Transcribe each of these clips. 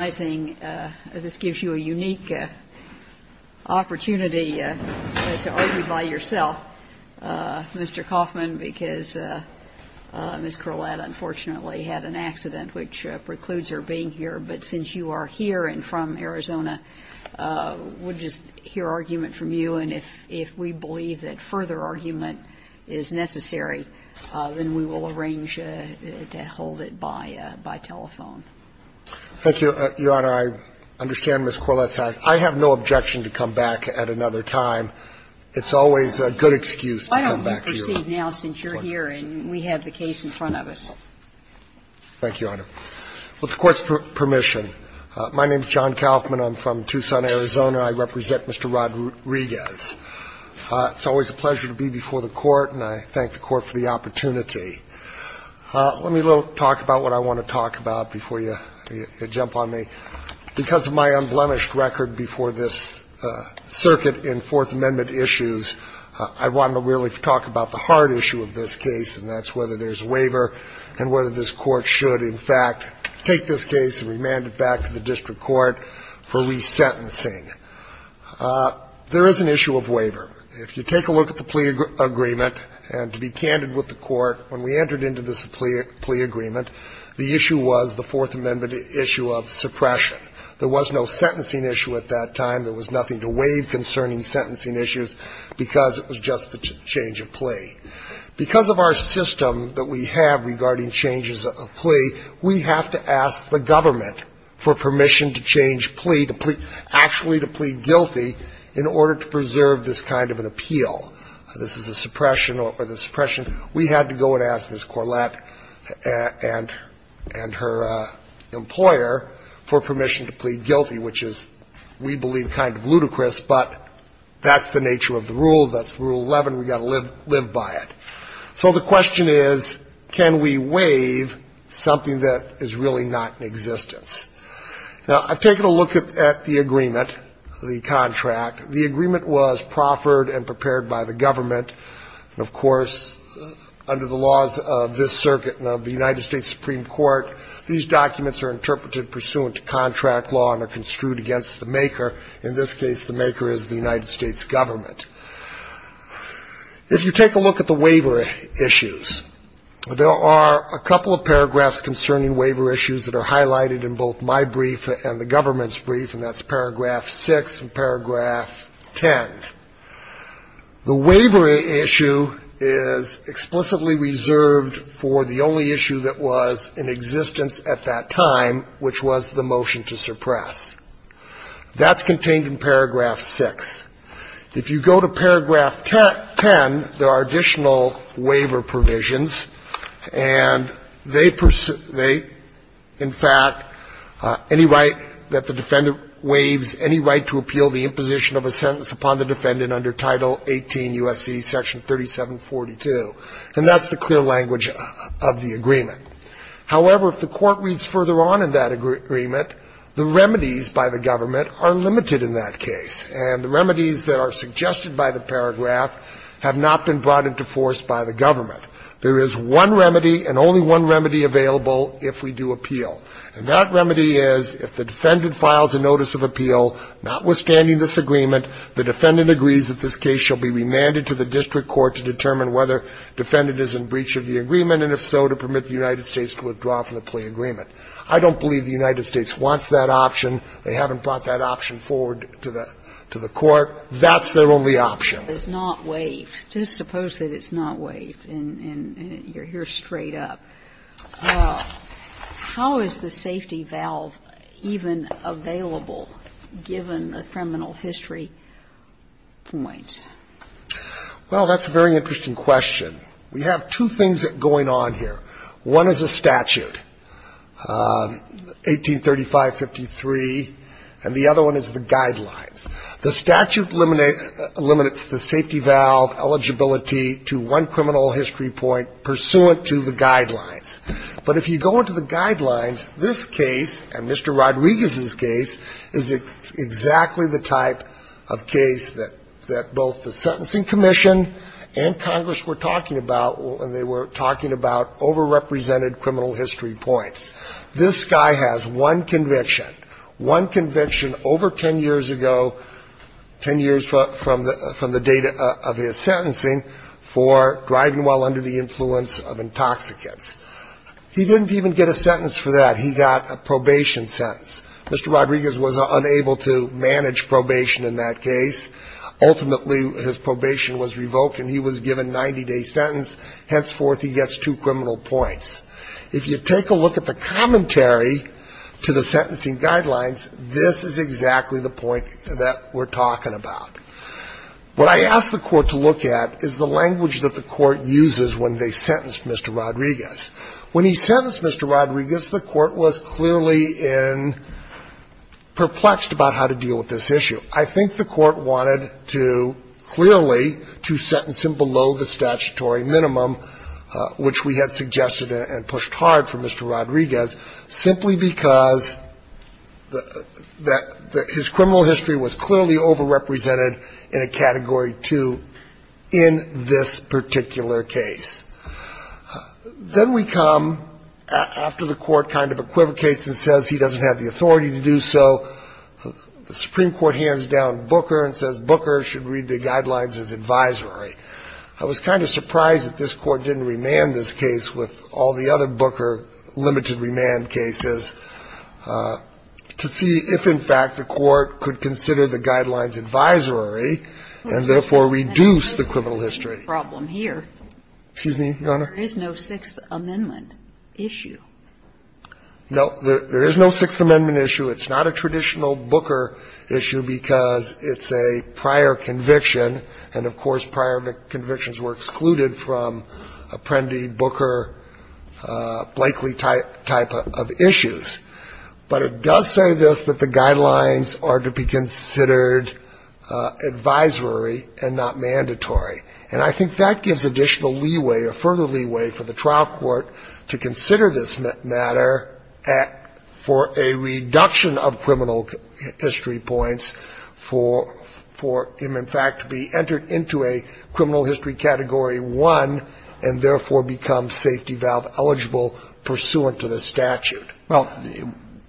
you a unique opportunity to argue by yourself, Mr. Coffman, because Ms. Corlatt unfortunately had an accident, which precludes her being here. But since you are here and from Arizona, we'll just hear argument from you. And if we believe that further argument is necessary, then we will arrange to hold it by telephone. Thank you, Your Honor. I understand Ms. Corlatt's action. I have no objection to come back at another time. It's always a good excuse to come back here. Why don't you proceed now since you're here and we have the case in front of us? Thank you, Your Honor. With the Court's permission, my name is John Coffman. I'm from Tucson, Arizona. I represent Mr. Rodriguez. It's always a pleasure to be before the Court, and I thank the Court for the opportunity. Let me talk about what I want to talk about before you jump on me. Because of my unblemished record before this circuit in Fourth Amendment issues, I want to really talk about the hard issue of this case, and that's whether there's a waiver and whether this Court should, in fact, take this case and remand it back to the district court for resentencing. There is an issue of waiver. If you take a look at the plea agreement, and to be candid with the Court, when we entered into this plea agreement, the issue was the Fourth Amendment issue of suppression. There was no sentencing issue at that time. There was nothing to waive concerning sentencing issues because it was just the change of plea. Because of our system that we have regarding changes of plea, we have to ask the government for permission to change plea, actually to plead guilty in order to preserve this kind of an appeal. This is a suppression or the suppression. We had to go and ask Ms. Corlett and her employer for permission to plead guilty, which is, we believe, kind of ludicrous, but that's the nature of the rule. That's Rule 11. We've got to live by it. So the question is, can we waive something that is really not in existence? Now, I've taken a look at the agreement, the contract. The agreement was proffered and prepared by the government. And, of course, under the laws of this circuit and of the United States Supreme Court, these documents are interpreted pursuant to contract law and are construed against the maker. In this case, the maker is the United States government. If you take a look at the waiver issues, there are a couple of paragraphs concerning waiver issues that are highlighted in both my brief and the government's brief, and that's paragraph 6 and paragraph 10. The waiver issue is explicitly reserved for the only issue that was in existence at that time, which was the motion to suppress. That's contained in paragraph 6. If you go to paragraph 10, there are additional waiver provisions, and they, in fact, any right that the defendant waives any right to appeal the imposition of a sentence upon the defendant under Title 18 U.S.C. Section 3742. And that's the clear language of the agreement. However, if the court reads further on in that agreement, the remedies by the government are limited in that case, and the remedies that are suggested by the paragraph have not been brought into force by the government. There is one remedy, and only one remedy available if we do appeal. And that remedy is, if the defendant files a notice of appeal notwithstanding this agreement, the defendant agrees that this case shall be remanded to the district court to determine whether the defendant is in breach of the agreement, and if so, to permit the United States to withdraw from the plea agreement. I don't believe the United States wants that option. They haven't brought that option forward to the court. That's their only option. And if the statute does not waive, just suppose that it's not waived, and you're here straight up, how is the safety valve even available, given the criminal history points? Well, that's a very interesting question. We have two things going on here. One is a statute, 183553, and the other one is the guidelines. The statute eliminates the statute, the safety valve, eligibility to one criminal history point pursuant to the guidelines. But if you go into the guidelines, this case, and Mr. Rodriguez's case, is exactly the type of case that both the Sentencing Commission and Congress were talking about when they were talking about overrepresented criminal history points. This guy has one conviction, one conviction over 10 years ago, 10 years from the date of his sentencing, for driving while under the influence of intoxicants. He didn't even get a sentence for that. He got a probation sentence. Mr. Rodriguez was unable to manage probation in that case. Ultimately, his probation was revoked, and he was given 90-day sentence. Henceforth, he gets two criminal history points. If you take a look at the commentary to the sentencing guidelines, this is exactly the point that we're talking about. What I asked the Court to look at is the language that the Court uses when they sentenced Mr. Rodriguez. When he sentenced Mr. Rodriguez, the Court was clearly perplexed about how to deal with this issue. I think the Court wanted to clearly, to sentence him below the statutory minimum, which we had suggested and pushed hard for Mr. Rodriguez, simply because his criminal history was clearly overrepresented in a Category 2 in this particular case. Then we come, after the Court kind of equivocates and says he doesn't have the authority to do so, the Supreme Court hands down Booker and says Booker should read the guidelines as advisory. I was kind of surprised that this Court didn't remand this case with all the other Booker limited remand cases to see if, in fact, the Court could consider the guidelines advisory and, therefore, reduce the criminal history. Kagan. But there's no sixth amendment problem here. Excuse me, Your Honor? There is no sixth amendment issue. No. There is no sixth amendment issue. It's not a traditional Booker issue because it's a prior conviction. And, of course, prior convictions were excluded from Apprendi, Booker, Blakely type of issues. But it does say this, that the guidelines are to be considered advisory and not mandatory. And I think that gives additional leeway or further leeway for the trial court to consider this matter for a reduction of criminal history points, for him, in fact, to be able to enter into a criminal history category one and, therefore, become safety valve eligible pursuant to the statute. Well,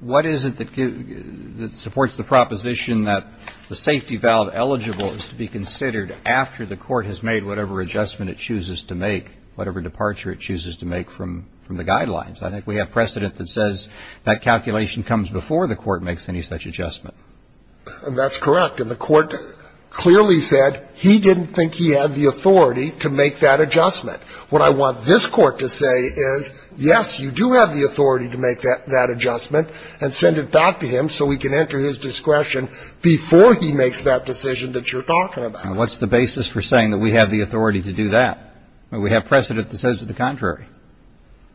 what is it that supports the proposition that the safety valve eligible is to be considered after the Court has made whatever adjustment it chooses to make, whatever departure it chooses to make from the guidelines? I think we have precedent that says that calculation comes before the Court makes any such adjustment. And that's correct. And the Court clearly said he didn't think he had the authority to make that adjustment. What I want this Court to say is, yes, you do have the authority to make that adjustment and send it back to him so he can enter his discretion before he makes that decision that you're talking about. And what's the basis for saying that we have the authority to do that? We have precedent that says it's the contrary.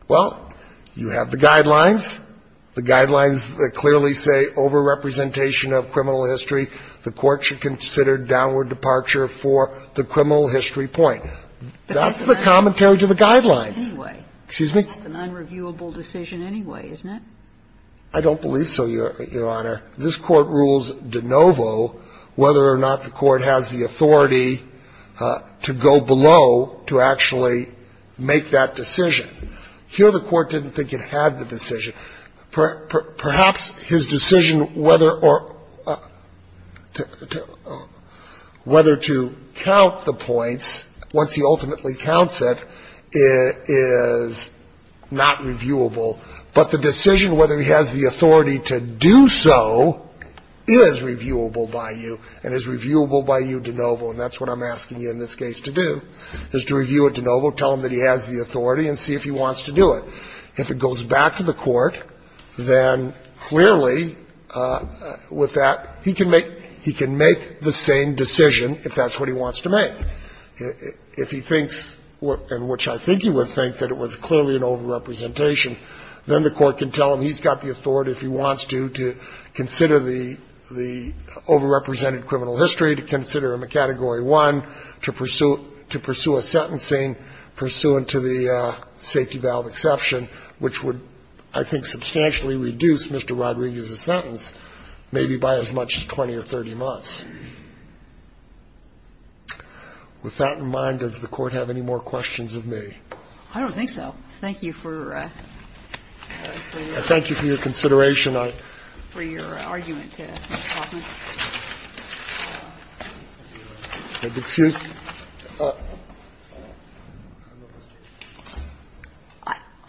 Well, you have the guidelines. The guidelines clearly say over-representation of criminal history. The Court should consider downward departure for the criminal history point. That's the commentary to the guidelines. But that's an unreviewable decision anyway. Excuse me? That's an unreviewable decision anyway, isn't it? I don't believe so, Your Honor. This Court rules de novo whether or not the Court has the authority to go below to actually make that decision. Here the Court didn't think it had the decision. Perhaps his decision whether or to count the points, once he ultimately counts it, is not reviewable. But the decision whether he has the authority to do so is reviewable by you and is reviewable by you de novo. And that's what I'm asking you in this case to do, is to review it de novo, tell him that he has the authority and see if he wants to do it. If it goes back to the Court, then clearly with that he can make the same decision if that's what he wants to make. If he thinks, and which I think he would think, that it was clearly an over-representation, then the Court can tell him he's got the authority if he wants to, to consider the over-represented criminal history, to consider him a Category 1, to pursue a sentencing pursuant to the safety valve exception, which would, I think, substantially reduce Mr. Rodriguez's sentence, maybe by as much as 20 or 30 months. With that in mind, does the Court have any more questions of me? I don't think so. Thank you for your consideration. Thank you for your argument, Mr. Hoffman.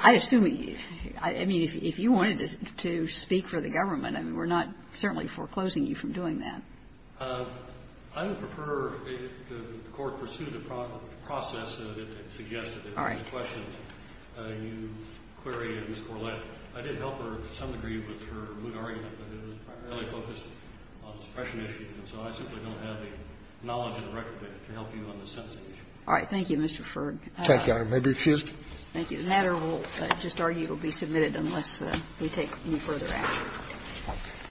I assume, I mean, if you wanted to speak for the government, I mean, we're not certainly foreclosing you from doing that. I would prefer the Court pursue the process that it suggested. All right. If there's questions, you query Ms. Corlett. I did help her to some degree with her moot argument, but it was primarily focused on suppression issues. And so I simply don't have the knowledge and the record to help you on the sentencing issue. All right. Thank you, Mr. Ferg. Thank you, Your Honor. May I be excused? Thank you. The matter will just argue it will be submitted unless we take any further action.